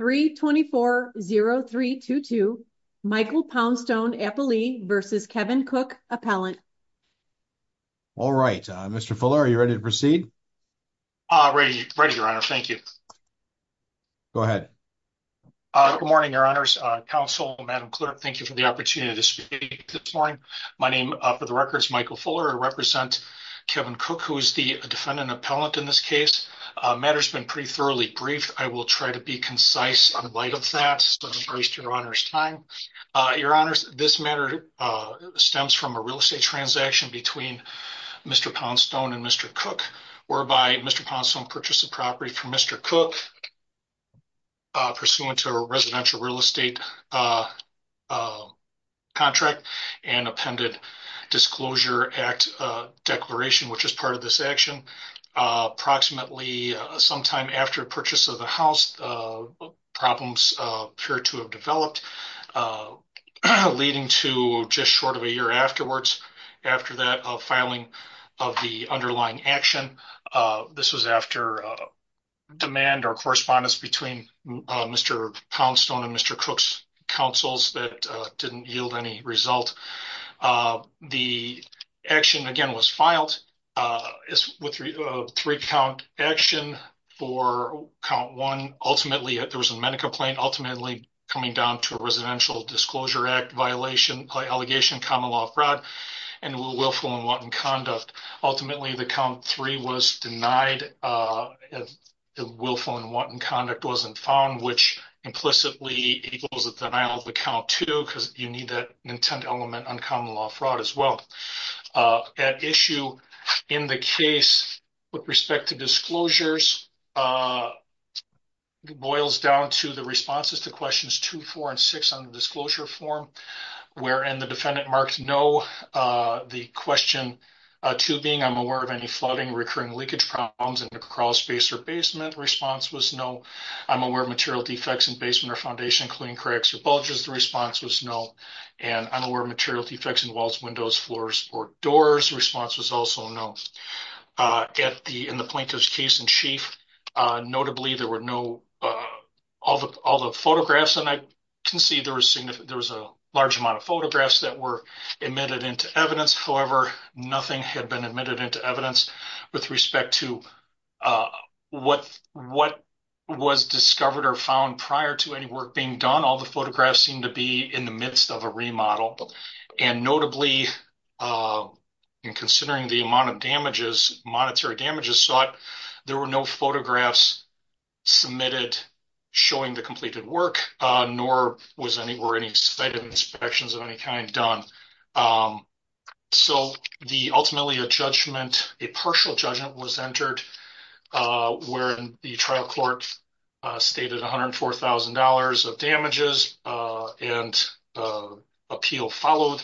324-0322 Michael Poundstone vs. Kevin Cook Appellant. All right, Mr. Fuller, are you ready to proceed? Ready, Your Honor. Thank you. Go ahead. Good morning, Your Honors. Counsel, Madam Clerk, thank you for the opportunity to speak this morning. My name, for the record, is Michael Fuller. I represent Kevin Cook, who is the defendant appellant in this case. The matter has been pretty thoroughly brief. I will try to be concise in light of that, so I will embrace Your Honor's time. Your Honors, this matter stems from a real estate transaction between Mr. Poundstone and Mr. Cook, whereby Mr. Poundstone purchased the property from Mr. Cook pursuant to a residential real estate contract and appended Disclosure Act Declaration, which is part of this action. Approximately sometime after purchase of the house, problems appear to have developed, leading to just short of a year afterwards, after that filing of the underlying action. This was after demand or correspondence between Mr. Poundstone and Mr. Cook's counsels that didn't yield any result. The action, again, was filed as a three-count action. For count one, ultimately, there was a medical complaint, ultimately coming down to a Residential Disclosure Act violation allegation, common law fraud, and willful and wanton conduct. Ultimately, the count three was denied. The willful and wanton conduct wasn't found, which implicitly equals a denial of the count two, because you need that intent element on common law fraud as well. At issue in the case with respect to disclosures boils down to the responses to questions two, four, and six on the disclosure form, wherein the defendant marked no. The question two being, I'm aware of any flooding, recurring leakage problems in the crawlspace or basement, response was no. I'm aware of material defects in basement or foundation, including cracks or bulges, the response was no. And I'm aware of material defects in walls, windows, floors, or doors, response was also no. In the plaintiff's case in chief, notably, there were no, all the photographs, and I can see there was a large amount of photographs that were admitted into evidence. However, nothing had been admitted into evidence with respect to what was discovered or found prior to any work being done. All the photographs seem to be in the midst of a remodel. And notably, in considering the amount of damages, monetary damages sought, there were no photographs submitted showing the completed work, nor were any sighted inspections of any kind done. So, ultimately, a judgment, a partial judgment was entered, wherein the trial court stated $104,000 of damages, and appeal followed.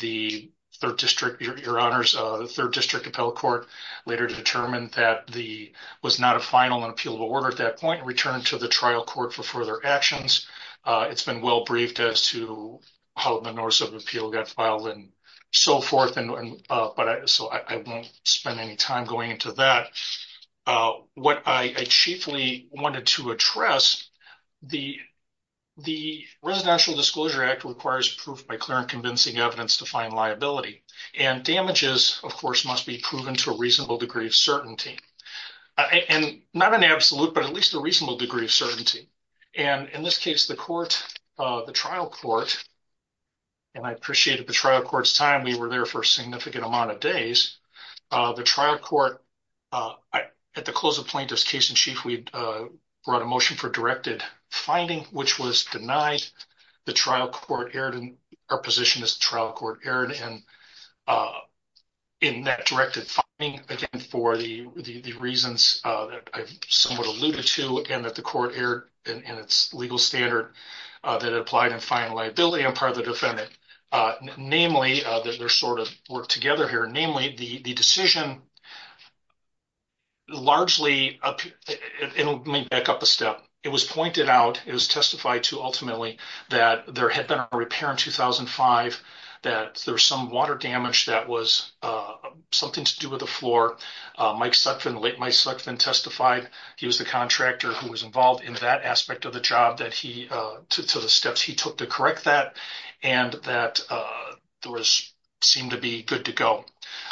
The third district, your honors, the third district appellate court later determined that the, was not a final and appealable order at that point, and returned to the trial court for further actions. It's been well briefed as to how the notice of appeal got filed and so forth, and, but I, so I won't spend any time going into that. What I chiefly wanted to address, the, the Residential Disclosure Act requires proof by clear and convincing evidence to find liability, and damages, of course, must be proven to a reasonable degree of certainty. And not an absolute, but at least a reasonable degree of certainty. And in this case, the court, the trial court, and I appreciated the trial court's time. We were there for a significant amount of days. The trial court, at the close of plaintiff's case in chief, we brought a motion for directed finding, which was denied. The trial court erred, and our position is the trial court erred, and in that directed finding, again, for the reasons that I've somewhat alluded to, and that the court erred in its legal standard that it applied in finding liability on part of the defendant. Namely, that there's sort of work together here. Namely, the decision largely, and let me back up a step, it was pointed out, it was testified to ultimately, that there had been a repair in 2005, that there was some water Mike Sutphin, late Mike Sutphin, testified. He was the contractor who was involved in that aspect of the job, that he, to the steps he took to correct that, and that there was, seemed to be good to go.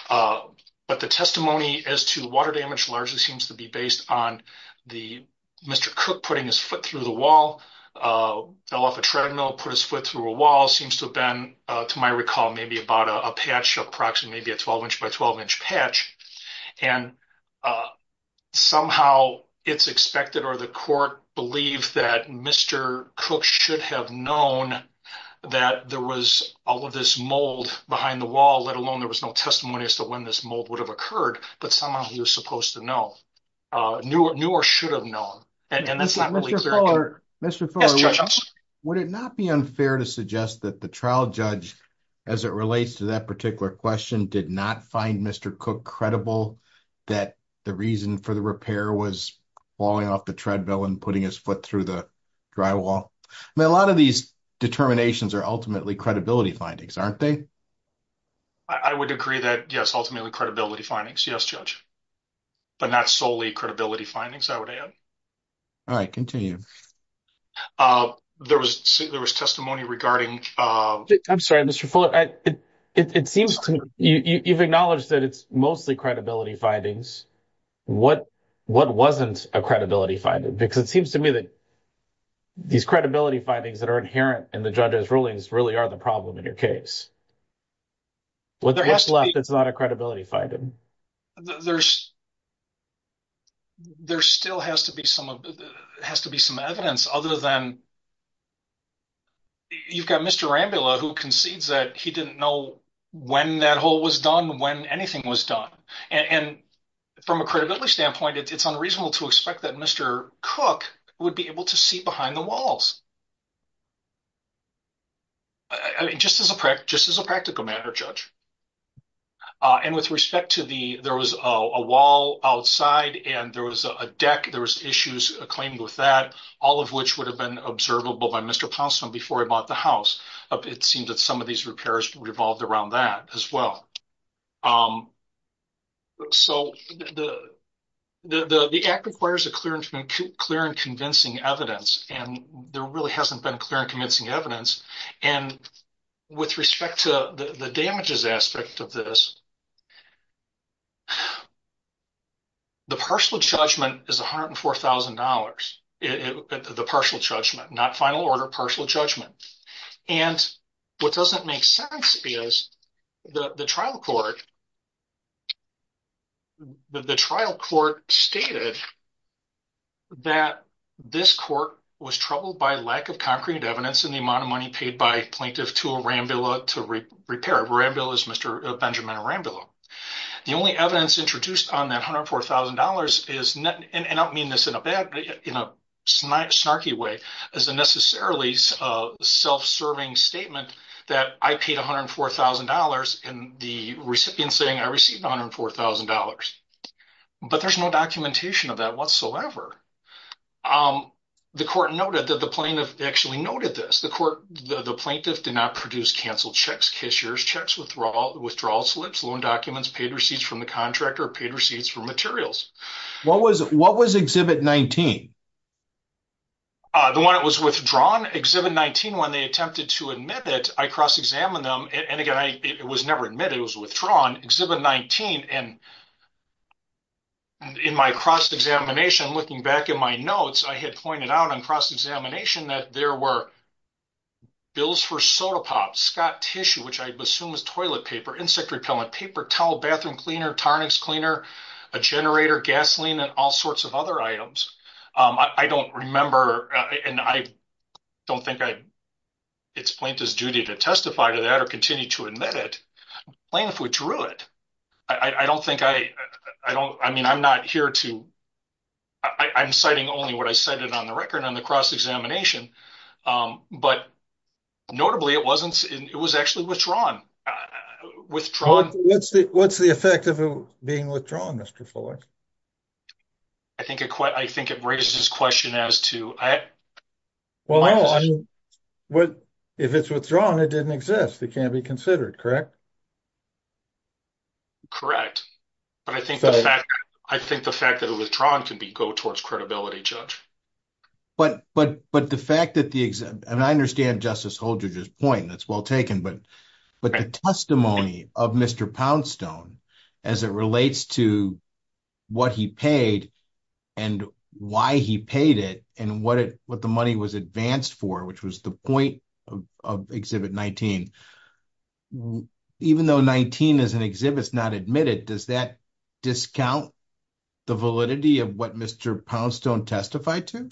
But the testimony as to water damage largely seems to be based on the, Mr. Cook putting his foot through the wall, fell off a treadmill, put his foot through a wall, seems to have been, to my recall, maybe about a patch, approximately, maybe a 12 inch by 12 inch patch, and somehow it's expected, or the court believes that Mr. Cook should have known that there was all of this mold behind the wall, let alone there was no testimony as to when this mold would have occurred, but somehow he was supposed to know, knew or should have known, and that's not really Mr. Fuller, would it not be unfair to suggest that the trial judge, as it relates to that particular question, did not find Mr. Cook credible that the reason for the repair was falling off the treadmill and putting his foot through the drywall? I mean, a lot of these determinations are ultimately credibility findings, aren't they? I would agree that, yes, ultimately credibility findings, yes, Judge, but not solely credibility findings, I would add. All right, continue. There was testimony regarding- I'm sorry, Mr. Fuller, it seems to me, you've acknowledged that it's mostly credibility findings, what wasn't a credibility finding? Because it seems to me that these credibility findings that are inherent in the judge's rulings really are the problem in your case. What's left that's not a credibility finding? There still has to be some evidence, other than you've got Mr. Rambula who concedes that he didn't know when that hole was done, when anything was done, and from a credibility standpoint, it's unreasonable to expect that Mr. Cook would be just as a practical matter, Judge. And with respect to the- there was a wall outside, and there was a deck, there was issues claimed with that, all of which would have been observable by Mr. Ponson before he bought the house. It seems that some of these repairs revolved around that as well. So the act requires a clear and convincing evidence, and there really hasn't been clear and convincing evidence. And with respect to the damages aspect of this, the partial judgment is $104,000, the partial judgment, not final order partial judgment. And what doesn't make sense is the trial court, the trial court stated that this court was troubled by lack of concrete evidence in the amount of money paid by plaintiff to Rambula to repair. Rambula is Mr. Benjamin Rambula. The only evidence introduced on that $104,000 is- and I don't mean this in a bad, in a snarky way, as a necessarily self-serving statement that I paid $104,000 and the recipient saying I received $104,000. But there's no documentation of that whatsoever. The court noted that the plaintiff actually noted this. The plaintiff did not produce canceled checks, cashier's checks, withdrawal slips, loan documents, paid receipts from the contractor, paid receipts for materials. What was exhibit 19? The one that was withdrawn, exhibit 19, when they attempted to admit it, I cross-examined them, and again, it was never admitted, it was withdrawn, exhibit 19. And in my cross-examination, looking back in my notes, I had pointed out on cross-examination that there were bills for soda pops, Scott tissue, which I assume is toilet paper, insect repellent, paper towel, bathroom cleaner, tarnix cleaner, a generator, gasoline, and all sorts of other items. I don't remember, and I don't think it's plaintiff's duty to testify to that or continue to admit it. The plaintiff withdrew it. I don't think I, I don't, I mean, I'm not here to, I'm citing only what I cited on the record on the cross-examination, but notably, it wasn't, it was actually withdrawn. What's the effect of it being withdrawn, Mr. Fuller? I think it, I think it raises this question as to, well, if it's withdrawn, it didn't exist. It can't be considered, correct? Correct. But I think the fact, I think the fact that it was withdrawn could be go towards credibility, Judge. But, but, but the fact that the, and I understand Justice Holdredge's point, that's well taken, but, but the testimony of Mr. Poundstone as it relates to what he paid and why he paid it and what it, what the money was advanced for, which was the point of Exhibit 19, even though 19 is an exhibit, it's not admitted, does that discount the validity of what Mr. Poundstone testified to?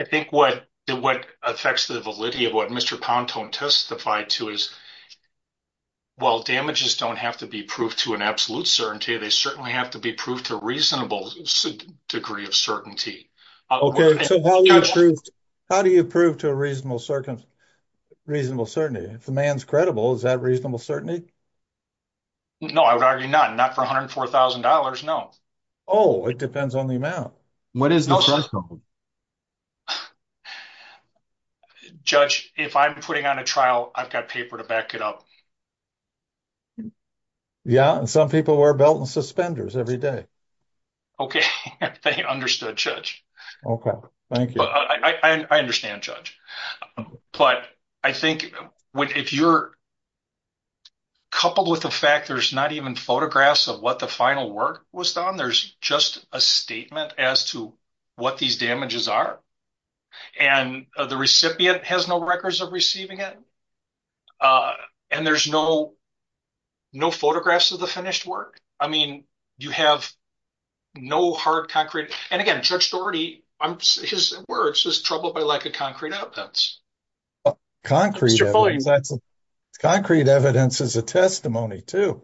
I think what, what affects the validity of what Mr. Poundstone testified to is, well, damages don't have to be proved to an absolute certainty. They certainly have to be proved to a reasonable degree of certainty. Okay, so how do you prove, how do you prove to a reasonable circumstance, reasonable certainty? If the man's credible, is that reasonable certainty? No, I would argue not, not for $104,000. No. Oh, it depends on the I've got paper to back it up. Yeah, and some people wear belt and suspenders every day. Okay, they understood, Judge. Okay, thank you. I understand, Judge, but I think if you're coupled with the fact there's not even photographs of what the final work was done, there's just a statement as to what these damages are, and the recipient has no records of receiving it, and there's no, no photographs of the finished work. I mean, you have no hard concrete, and again, Judge Dougherty, his words, is troubled by lack of concrete evidence. Concrete evidence is a testimony, too.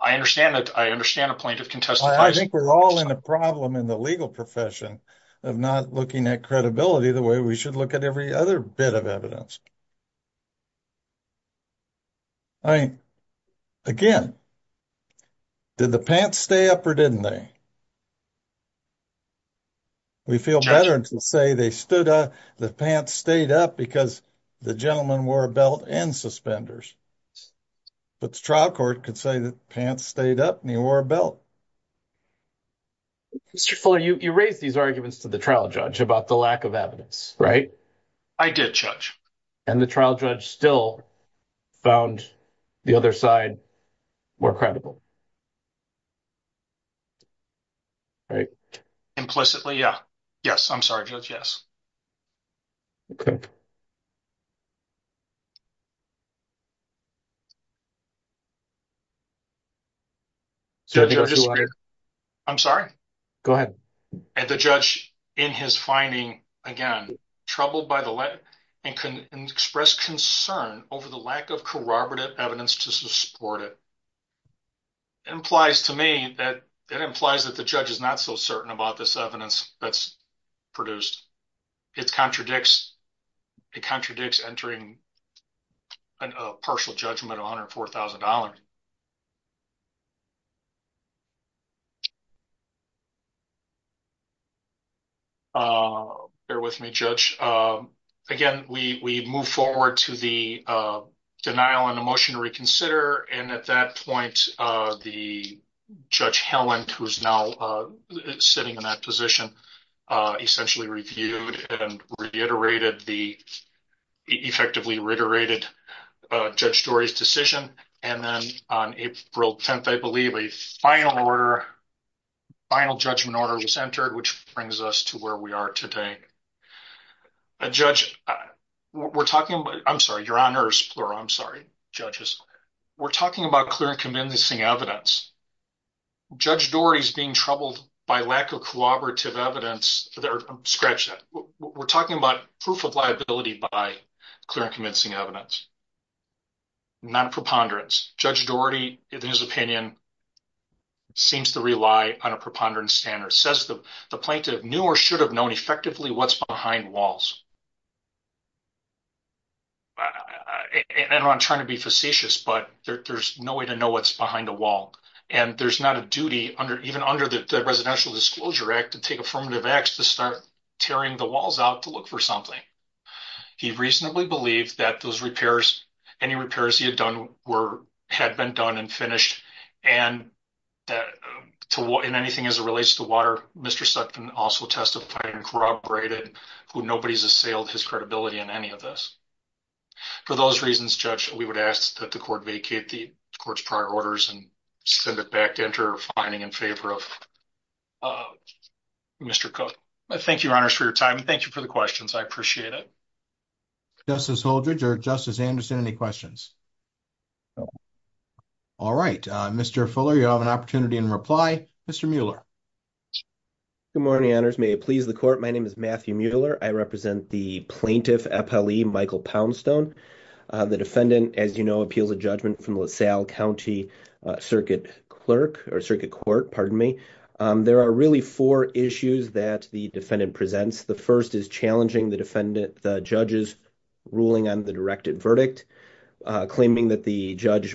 I understand that. I understand the point of contest. I think we're all in a problem in the legal profession of not looking at credibility the way we should look at every other bit of evidence. I mean, again, did the pants stay up or didn't they? We feel better to say they stood up, the pants stayed up because the gentleman wore a belt and suspenders, but the trial court could say the pants stayed up and he wore a belt. Mr. Fuller, you raised these arguments to the trial judge about the lack of evidence, right? I did, Judge. And the trial judge still found the other side more credible? Right. Implicitly, yeah. Yes, I'm sorry, Judge, yes. So, I'm sorry. Go ahead. And the judge, in his finding, again, troubled by the lack, and expressed concern over the lack of corroborative evidence to support it. It implies to me that it implies that the judge is not so certain about this evidence that's produced. It contradicts entering a partial judgment of $104,000. Bear with me, Judge. Again, we move forward to the denial and the motion to reconsider, and at that point, the Judge Helland, who's now sitting in that position, essentially reviewed and reiterated the, effectively reiterated Judge Dorey's decision, and then on April 10th, I believe, a final order, final judgment order was entered, which brings us to where we are today. Judge, we're talking about, I'm sorry, your honors, plural, I'm sorry, judges. We're talking about clear and convincing evidence. Judge Dorey's being troubled by lack of corroborative evidence. Scratch that. We're talking about proof of liability by clear and convincing evidence, not a preponderance. Judge Dorey, in his opinion, seems to rely on a preponderance standard. Says the plaintiff knew or should have known effectively what's behind walls. And I'm trying to be facetious, but there's no way to know what's behind a wall, and there's not a duty, even under the Residential Disclosure Act, to take affirmative acts to start tearing the walls out to look for something. He reasonably believed that those repairs, any repairs he had done, had been done and finished, and in anything as it relates to water, Mr. Sutton also testified and corroborated who nobody's assailed his credibility in any of this. For those reasons, Judge, we would ask that the court vacate the court's prior orders and send it back to enter a fining in favor of Mr. Cook. Thank you, your honors, for your time, and thank you for the questions. I appreciate it. Justice Holdredge or Justice Anderson, any questions? All right. Mr. Fuller, you have an opportunity in reply. Mr. Mueller. Good morning, honors. May it please the court. My name is Matthew Mueller. I represent the plaintiff, FLE Michael Poundstone. The defendant, as you know, appeals a judgment from LaSalle County Circuit Court. There are really four issues that the defendant presents. The first is challenging the judge's ruling on the directed verdict, claiming that the judge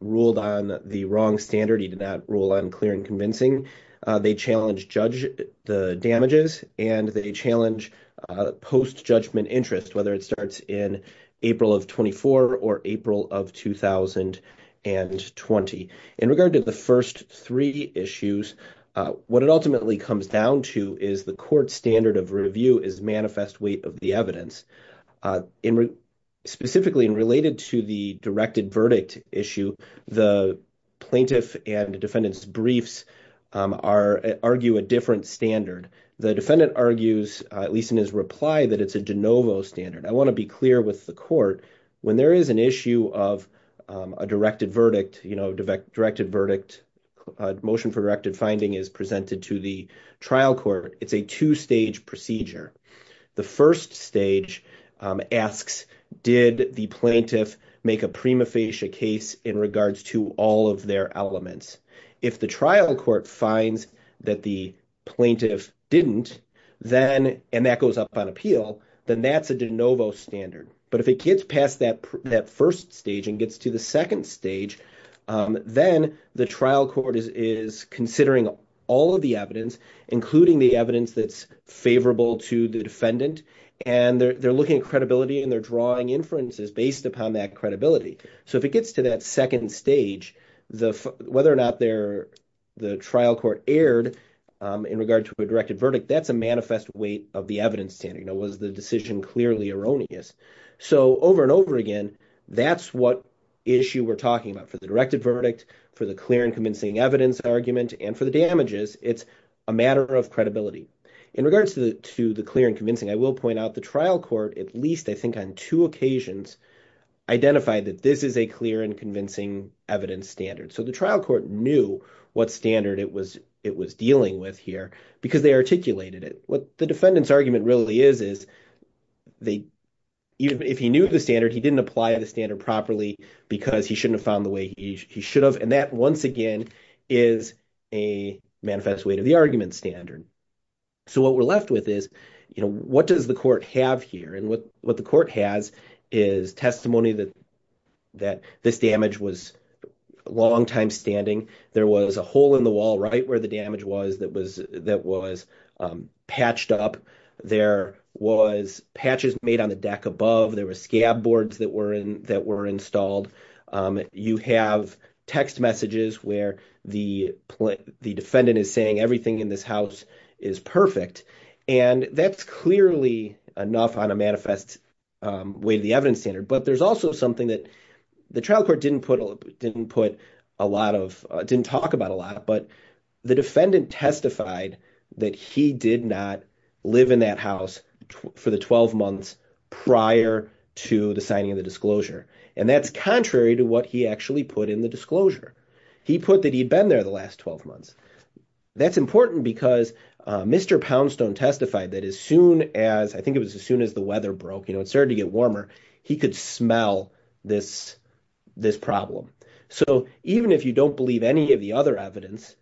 ruled on the wrong standard. He did not rule on clear and convincing. They challenge judge the damages, and they challenge post-judgment interest, whether it starts in April of 24 or April of 2020. In regard to the first three issues, what it ultimately comes down to is the court's standard of review is manifest weight of the evidence. Specifically, and related to the directed verdict issue, the plaintiff and defendant's briefs argue a different standard. The defendant argues, at least in his reply, that it's a de novo standard. I want to be clear with the court. When there is an issue of a directed verdict, motion for directed finding is presented to the trial court. It's a two-stage procedure. The first stage asks, did the plaintiff make a prima facie case in regards to all of their elements? If the trial court finds that the plaintiff didn't, and that goes up on appeal, then that's a de novo standard. If it gets past that first stage and gets to the second stage, then the trial court is considering all of the evidence, including the evidence that's favorable to the defendant. They're looking at credibility, and they're drawing inferences based upon that credibility. If it gets to that second stage, whether or not the trial court erred in regard to a directed verdict, that's a manifest weight of the evidence standard. Was the decision clearly erroneous? Over and over again, that's what issue we're talking about. For the directed verdict, for the clear and convincing evidence argument, and for the damages, it's a matter of credibility. In regards to the clear and convincing, I will point out the trial court, at least I think on two occasions, identified that this is a clear and convincing evidence standard. The trial court knew what standard it was dealing with here because they articulated it. What the defendant's argument really is, is if he knew the standard, he didn't apply the standard properly because he shouldn't have found the way he should have. That, once again, is a manifest weight of the argument standard. What we're left with is, what does the court have here? What the court has is testimony that this damage was a long time standing. There was a hole in the wall right where the damage was that was patched up. There was patches made on the deck above. There were scab boards that were installed. You have text messages where the defendant is saying everything in this house is perfect. That's clearly enough on a manifest weight of the evidence standard. There's also something that the trial court didn't talk about a lot. The defendant testified that he did not live in that house for the 12 months prior to the signing of the disclosure. That's contrary to what he actually put in the disclosure. He put that he'd been there the last 12 months. That's important because Mr. Poundstone testified that as soon as, I think it was as soon as the weather broke, it started to get warmer, he could smell this problem. Even if you don't believe any of the other evidence,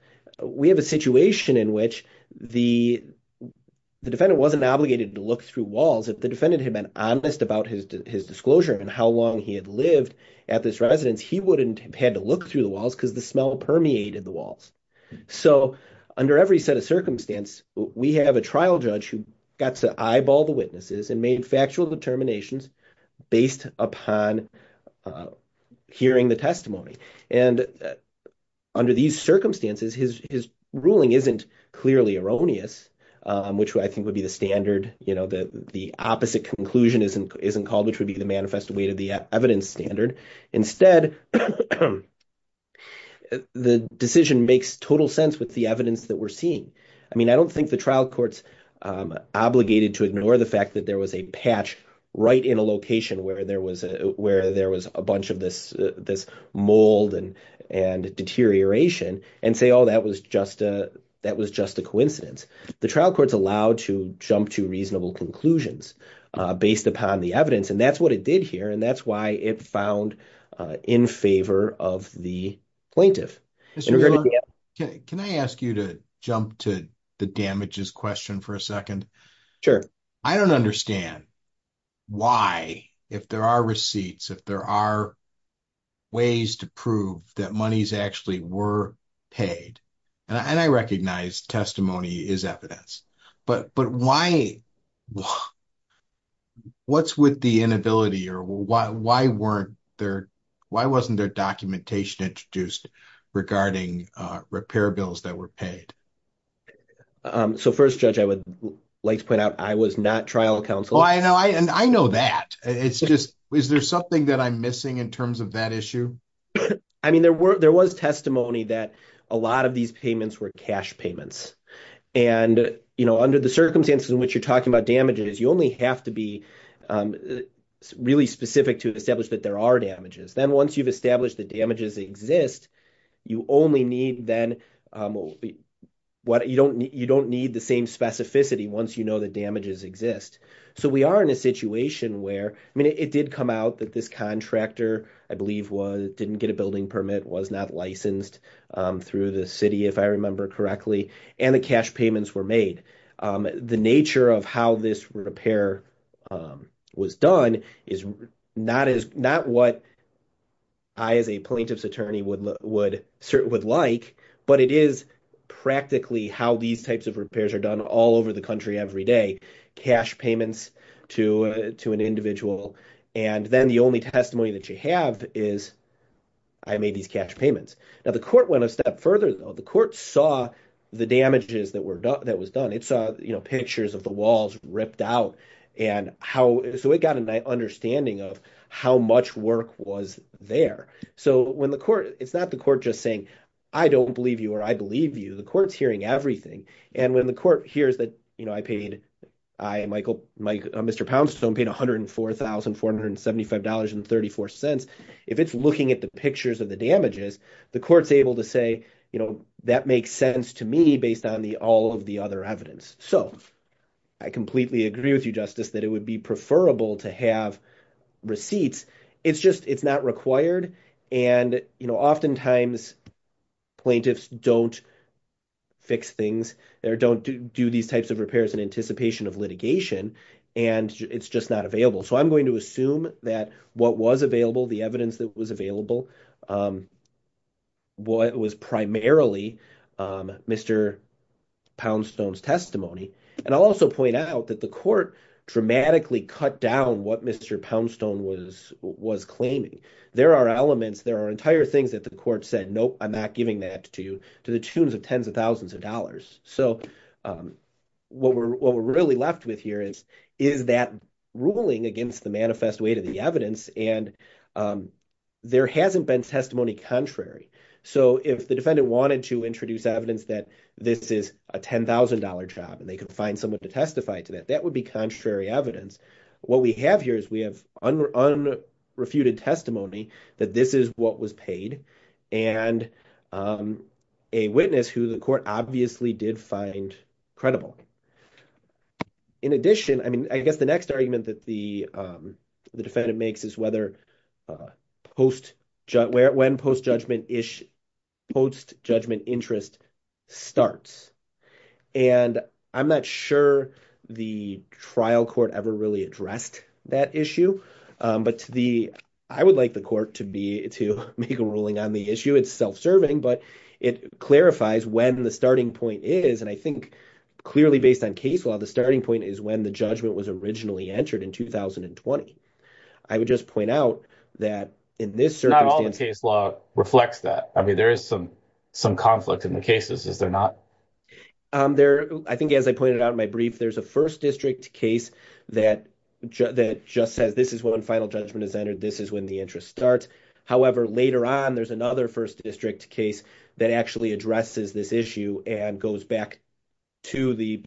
we have a situation in which the defendant wasn't obligated to look through walls. If the defendant had been honest about his disclosure and how long he had lived at this residence, he wouldn't have had to look through the walls because the smell permeated the walls. Under every set of circumstance, we have a trial judge who got to eyeball the witnesses and made factual determinations based upon hearing the testimony. Under these circumstances, his ruling isn't clearly erroneous, which I think would be the standard. The opposite conclusion isn't called, which would be the manifest weight of the evidence standard. Instead, the decision makes total sense with the evidence that we're seeing. I don't think the trial court's obligated to ignore the fact that there was a patch right in a location where there was a bunch of this mold and deterioration and say, oh, that was just a coincidence. The trial court's allowed to jump to reasonable conclusions based upon the evidence. That's what it did here and that's why it found in favor of the plaintiff. Can I ask you to jump to the damages question for a second? Sure. I don't understand why, if there are receipts, if there are ways to prove that monies actually were paid, and I recognize testimony is evidence, but what's with the why wasn't there documentation introduced regarding repair bills that were paid? First, Judge, I would like to point out I was not trial counsel. I know that. Is there something that I'm missing in terms of that issue? There was testimony that a lot of these payments were cash payments. Under the circumstances in which you're talking about damages, you only have to be really specific to establish that there are damages. Then once you've established the damages exist, you don't need the same specificity once you know the damages exist. So we are in a situation where, I mean, it did come out that this contractor, I believe, didn't get a building permit, was not licensed through the city, if I remember correctly, and the cash payments were made. The nature of how this repair was done is not what I, as a plaintiff's attorney, would like, but it is practically how these types of repairs are done all over the country every day, cash payments to an individual, and then the only testimony that you have is, I made these cash payments. Now, the court went a step further, though. The court saw the damages that was done. It saw pictures of the walls ripped out, so it got an understanding of how much work was there. It's not the court just saying, I don't believe you or I believe you. The court's hearing everything. When the court hears that I, Mr. Poundstone, paid $104,475.34, if it's looking at the pictures of the damages, the court's able to say, that makes sense to me based on all of the other evidence. I completely agree with you, Justice, that it would be preferable to have receipts. It's just, it's not required. Oftentimes, plaintiffs don't fix things. They don't do these types of repairs in anticipation of litigation, and it's just not available. I'm going to assume that what was available, the evidence that was available, was primarily Mr. Poundstone's testimony. I'll also point out that the court dramatically cut down what Mr. Poundstone was claiming. There are elements, there are entire things that the court said, nope, I'm not giving that to you, to the tunes of tens of thousands of dollars. What we're really left with here is that ruling against the manifest weight of the evidence. And there hasn't been testimony contrary. So if the defendant wanted to introduce evidence that this is a $10,000 job and they could find someone to testify to that, that would be contrary evidence. What we have here is we have unrefuted testimony that this is what was paid, and a witness who the court obviously did find credible. In addition, I mean, I guess the next argument that the defendant makes is when post-judgment interest starts. And I'm not sure the trial court ever really addressed that issue, but I would like the court to make a ruling on the issue. It's self-serving, but it clarifies when the starting point is. And I think clearly based on case law, the starting point is when the judgment was originally entered in 2020. I would just point out that in this circumstance- Not all the case law reflects that. I mean, there is some conflict in the cases, is there not? I think as I pointed out in my brief, there's a first district case that just says this is when final judgment is entered. This is when the interest starts. However, later on, there's another first district case that actually addresses this issue and goes back to the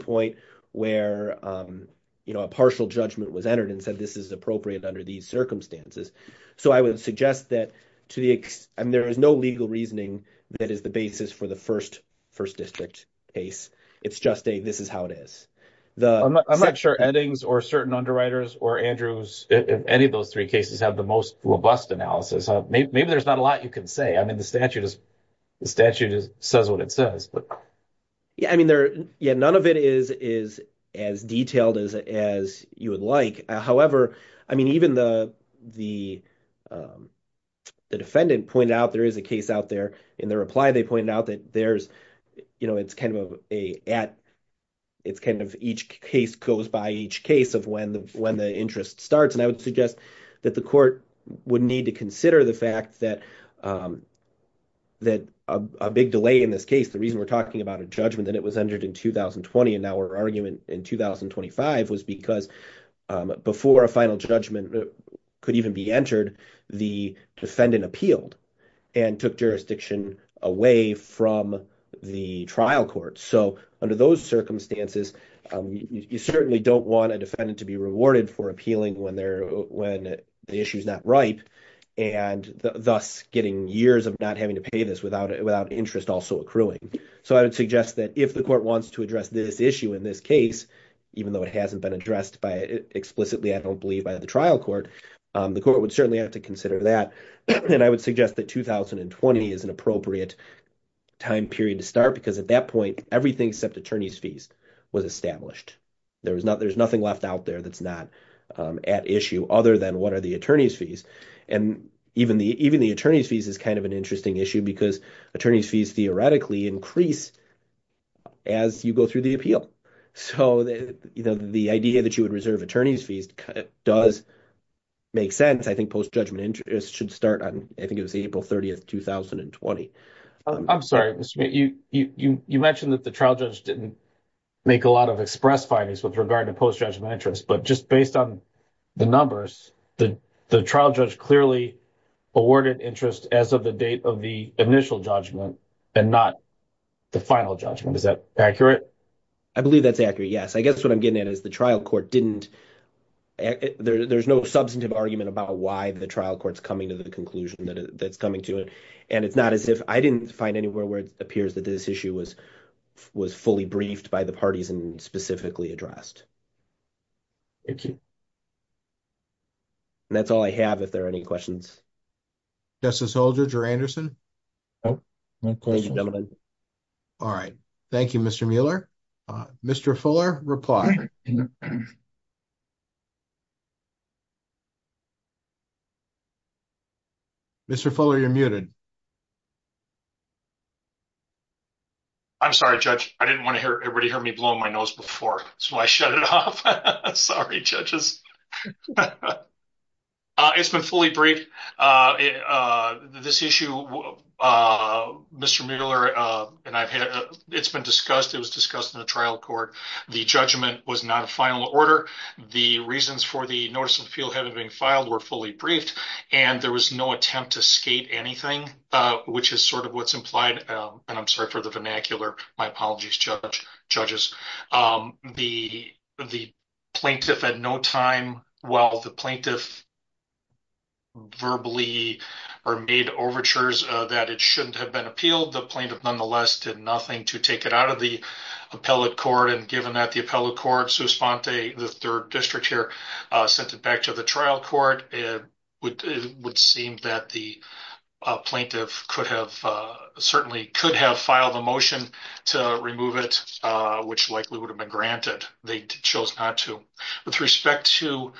point where a partial judgment was entered and said this is appropriate under these circumstances. So I would suggest that to the extent, I mean, there is no legal reasoning that is the basis for the first district case. It's just a, this is how it is. I'm not sure Eddings or certain underwriters or Andrews, any of those three cases have the most robust analysis. Maybe there's not a lot you can say. I mean, the statute says what it says. Yeah. I mean, none of it is as detailed as you would like. However, I mean, even the defendant pointed out there is a case out there. In their reply, they pointed out that there's, you know, it's kind of each case goes by each case of when the interest starts. And I would that the court would need to consider the fact that a big delay in this case, the reason we're talking about a judgment that it was entered in 2020 and now our argument in 2025 was because before a final judgment could even be entered, the defendant appealed and took jurisdiction away from the trial court. So under those circumstances, you certainly don't want a when the issue is not ripe and thus getting years of not having to pay this without it, without interest also accruing. So I would suggest that if the court wants to address this issue in this case, even though it hasn't been addressed by explicitly, I don't believe by the trial court, the court would certainly have to consider that. And I would suggest that 2020 is an appropriate time period to start because at that point, everything except attorney's fees was established. There's nothing left out there that's not at issue other than what are the attorney's fees. And even the attorney's fees is kind of an interesting issue because attorney's fees theoretically increase as you go through the appeal. So the idea that you would reserve attorney's fees does make sense. I think post-judgment interest should start on, I think it was April 30th, 2020. I'm sorry, you mentioned that the trial judge didn't make a lot of express findings with regard to post-judgment interest, but just based on the numbers, the trial judge clearly awarded interest as of the date of the initial judgment and not the final judgment. Is that accurate? I believe that's accurate. Yes. I guess what I'm getting at is the trial court didn't, there's no substantive argument about why the trial court's coming to the conclusion that's coming to it. And it's not as if I didn't find anywhere where it appears that this issue was fully briefed by the parties and specifically addressed. Thank you. And that's all I have if there are any questions. Justice Holdridge or Anderson? All right. Thank you, Mr. Mueller. Mr. Fuller, reply. Mr. Fuller, you're muted. I'm sorry, judge. I didn't want to hear everybody hear me blow my nose before, so I shut it off. Sorry, judges. It's been fully briefed. This issue, Mr. Mueller, it's been discussed. It was discussed in the trial court. The judgment was not a final order. The reasons for the notice of appeal having been filed were fully briefed, and there was no attempt to skate anything, which is sort of what's implied. And I'm sorry for the vernacular. My apologies, judges. The plaintiff had no time. While the plaintiff verbally made overtures that it shouldn't have been appealed, the plaintiff, nonetheless, did nothing to take it out of the appellate court. And given that the appellate court, Suspente, the third district here, sent it back to the trial court, it would seem that the plaintiff could have, certainly could have filed a motion to remove it, which likely would have been granted. They chose not to. With respect to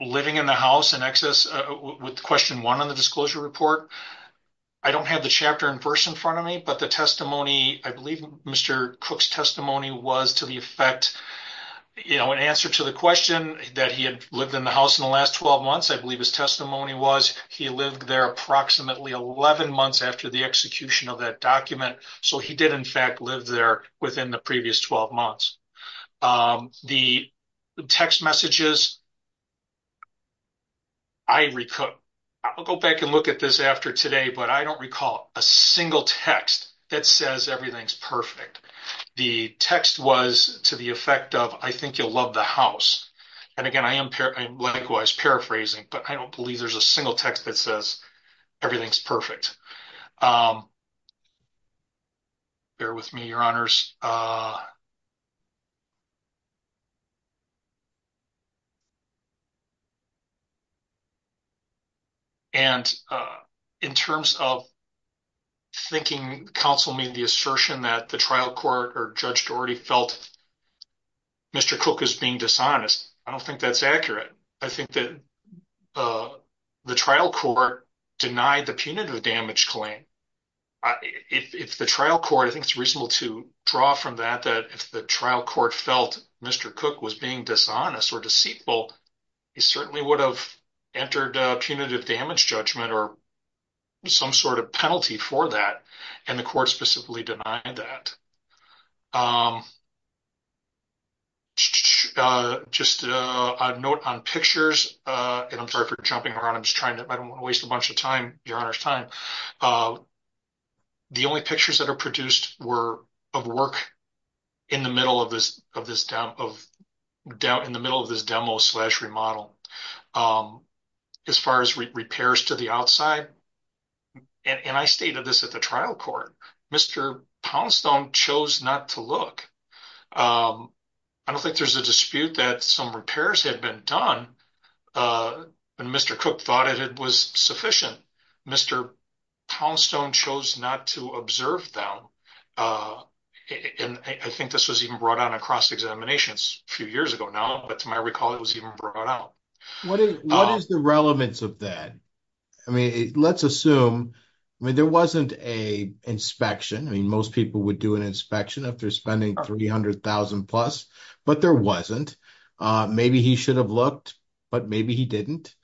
living in the house in excess, with question one on the disclosure report, I don't have the chapter and verse in front of me, but the testimony, I believe Mr. Cook's that he had lived in the house in the last 12 months, I believe his testimony was he lived there approximately 11 months after the execution of that document. So he did, in fact, live there within the previous 12 months. The text messages, I recall, I'll go back and look at this after today, but I don't recall a single text that says everything's perfect. The text was to the effect of, I think you'll love the house. And again, I am likewise paraphrasing, but I don't believe there's a single text that says everything's perfect. Bear with me, your honors. And in terms of thinking counsel made the assertion that the trial court or judge already felt Mr. Cook is being dishonest. I don't think that's accurate. I think that the trial court denied the punitive damage claim. If the trial court, I think it's reasonable to draw from that, that if the trial court felt Mr. Cook was being dishonest or deceitful, he certainly would have entered a punitive damage judgment or some sort of penalty for that. And the court specifically denied that. Just a note on pictures, and I'm sorry for jumping around. I'm just trying to, I don't want to waste a bunch of time, your honor's time. The only pictures that are produced were of work in the middle of this demo slash remodel. As far as repairs to the outside, and I stated this at the trial court, Mr. Poundstone chose not to look. I don't think there's a dispute that some repairs had been done, but Mr. Cook thought it was sufficient. Mr. Poundstone chose not to observe them. And I think this was even brought on across examinations a few years ago now, but to my assumption, there wasn't an inspection. Most people would do an inspection if they're spending $300,000 plus, but there wasn't. Maybe he should have looked, but maybe he didn't.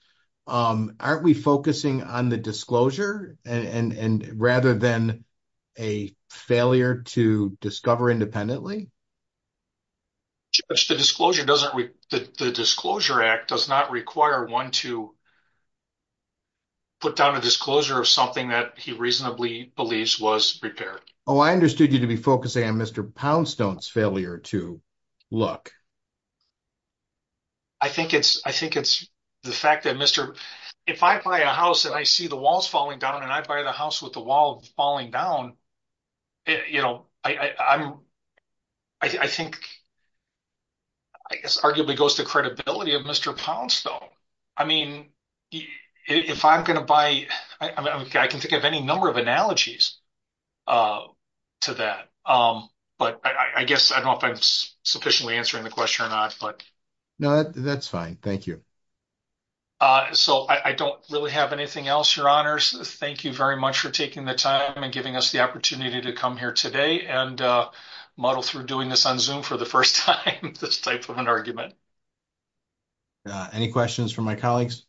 Aren't we focusing on the disclosure rather than a failure to discover independently? Judge, the disclosure act does not require one to put down a disclosure of something that he reasonably believes was repaired. Oh, I understood you to be focusing on Mr. Poundstone's failure to look. I think it's the fact that, Mr., if I buy a house and I see the I think, I guess arguably goes to credibility of Mr. Poundstone. I mean, if I'm going to buy, I can think of any number of analogies to that, but I guess I don't know if I'm sufficiently answering the question or not, but. No, that's fine. Thank you. So I don't really have anything else, your honors. Thank you very much for taking the time and giving us the opportunity to come here today and muddle through doing this on Zoom for the first time, this type of an argument. Any questions from my colleagues?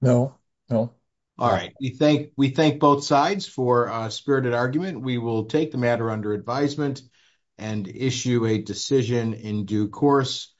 No, no. All right. We thank both sides for a spirited argument. We will take the matter under advisement and issue a decision in due course.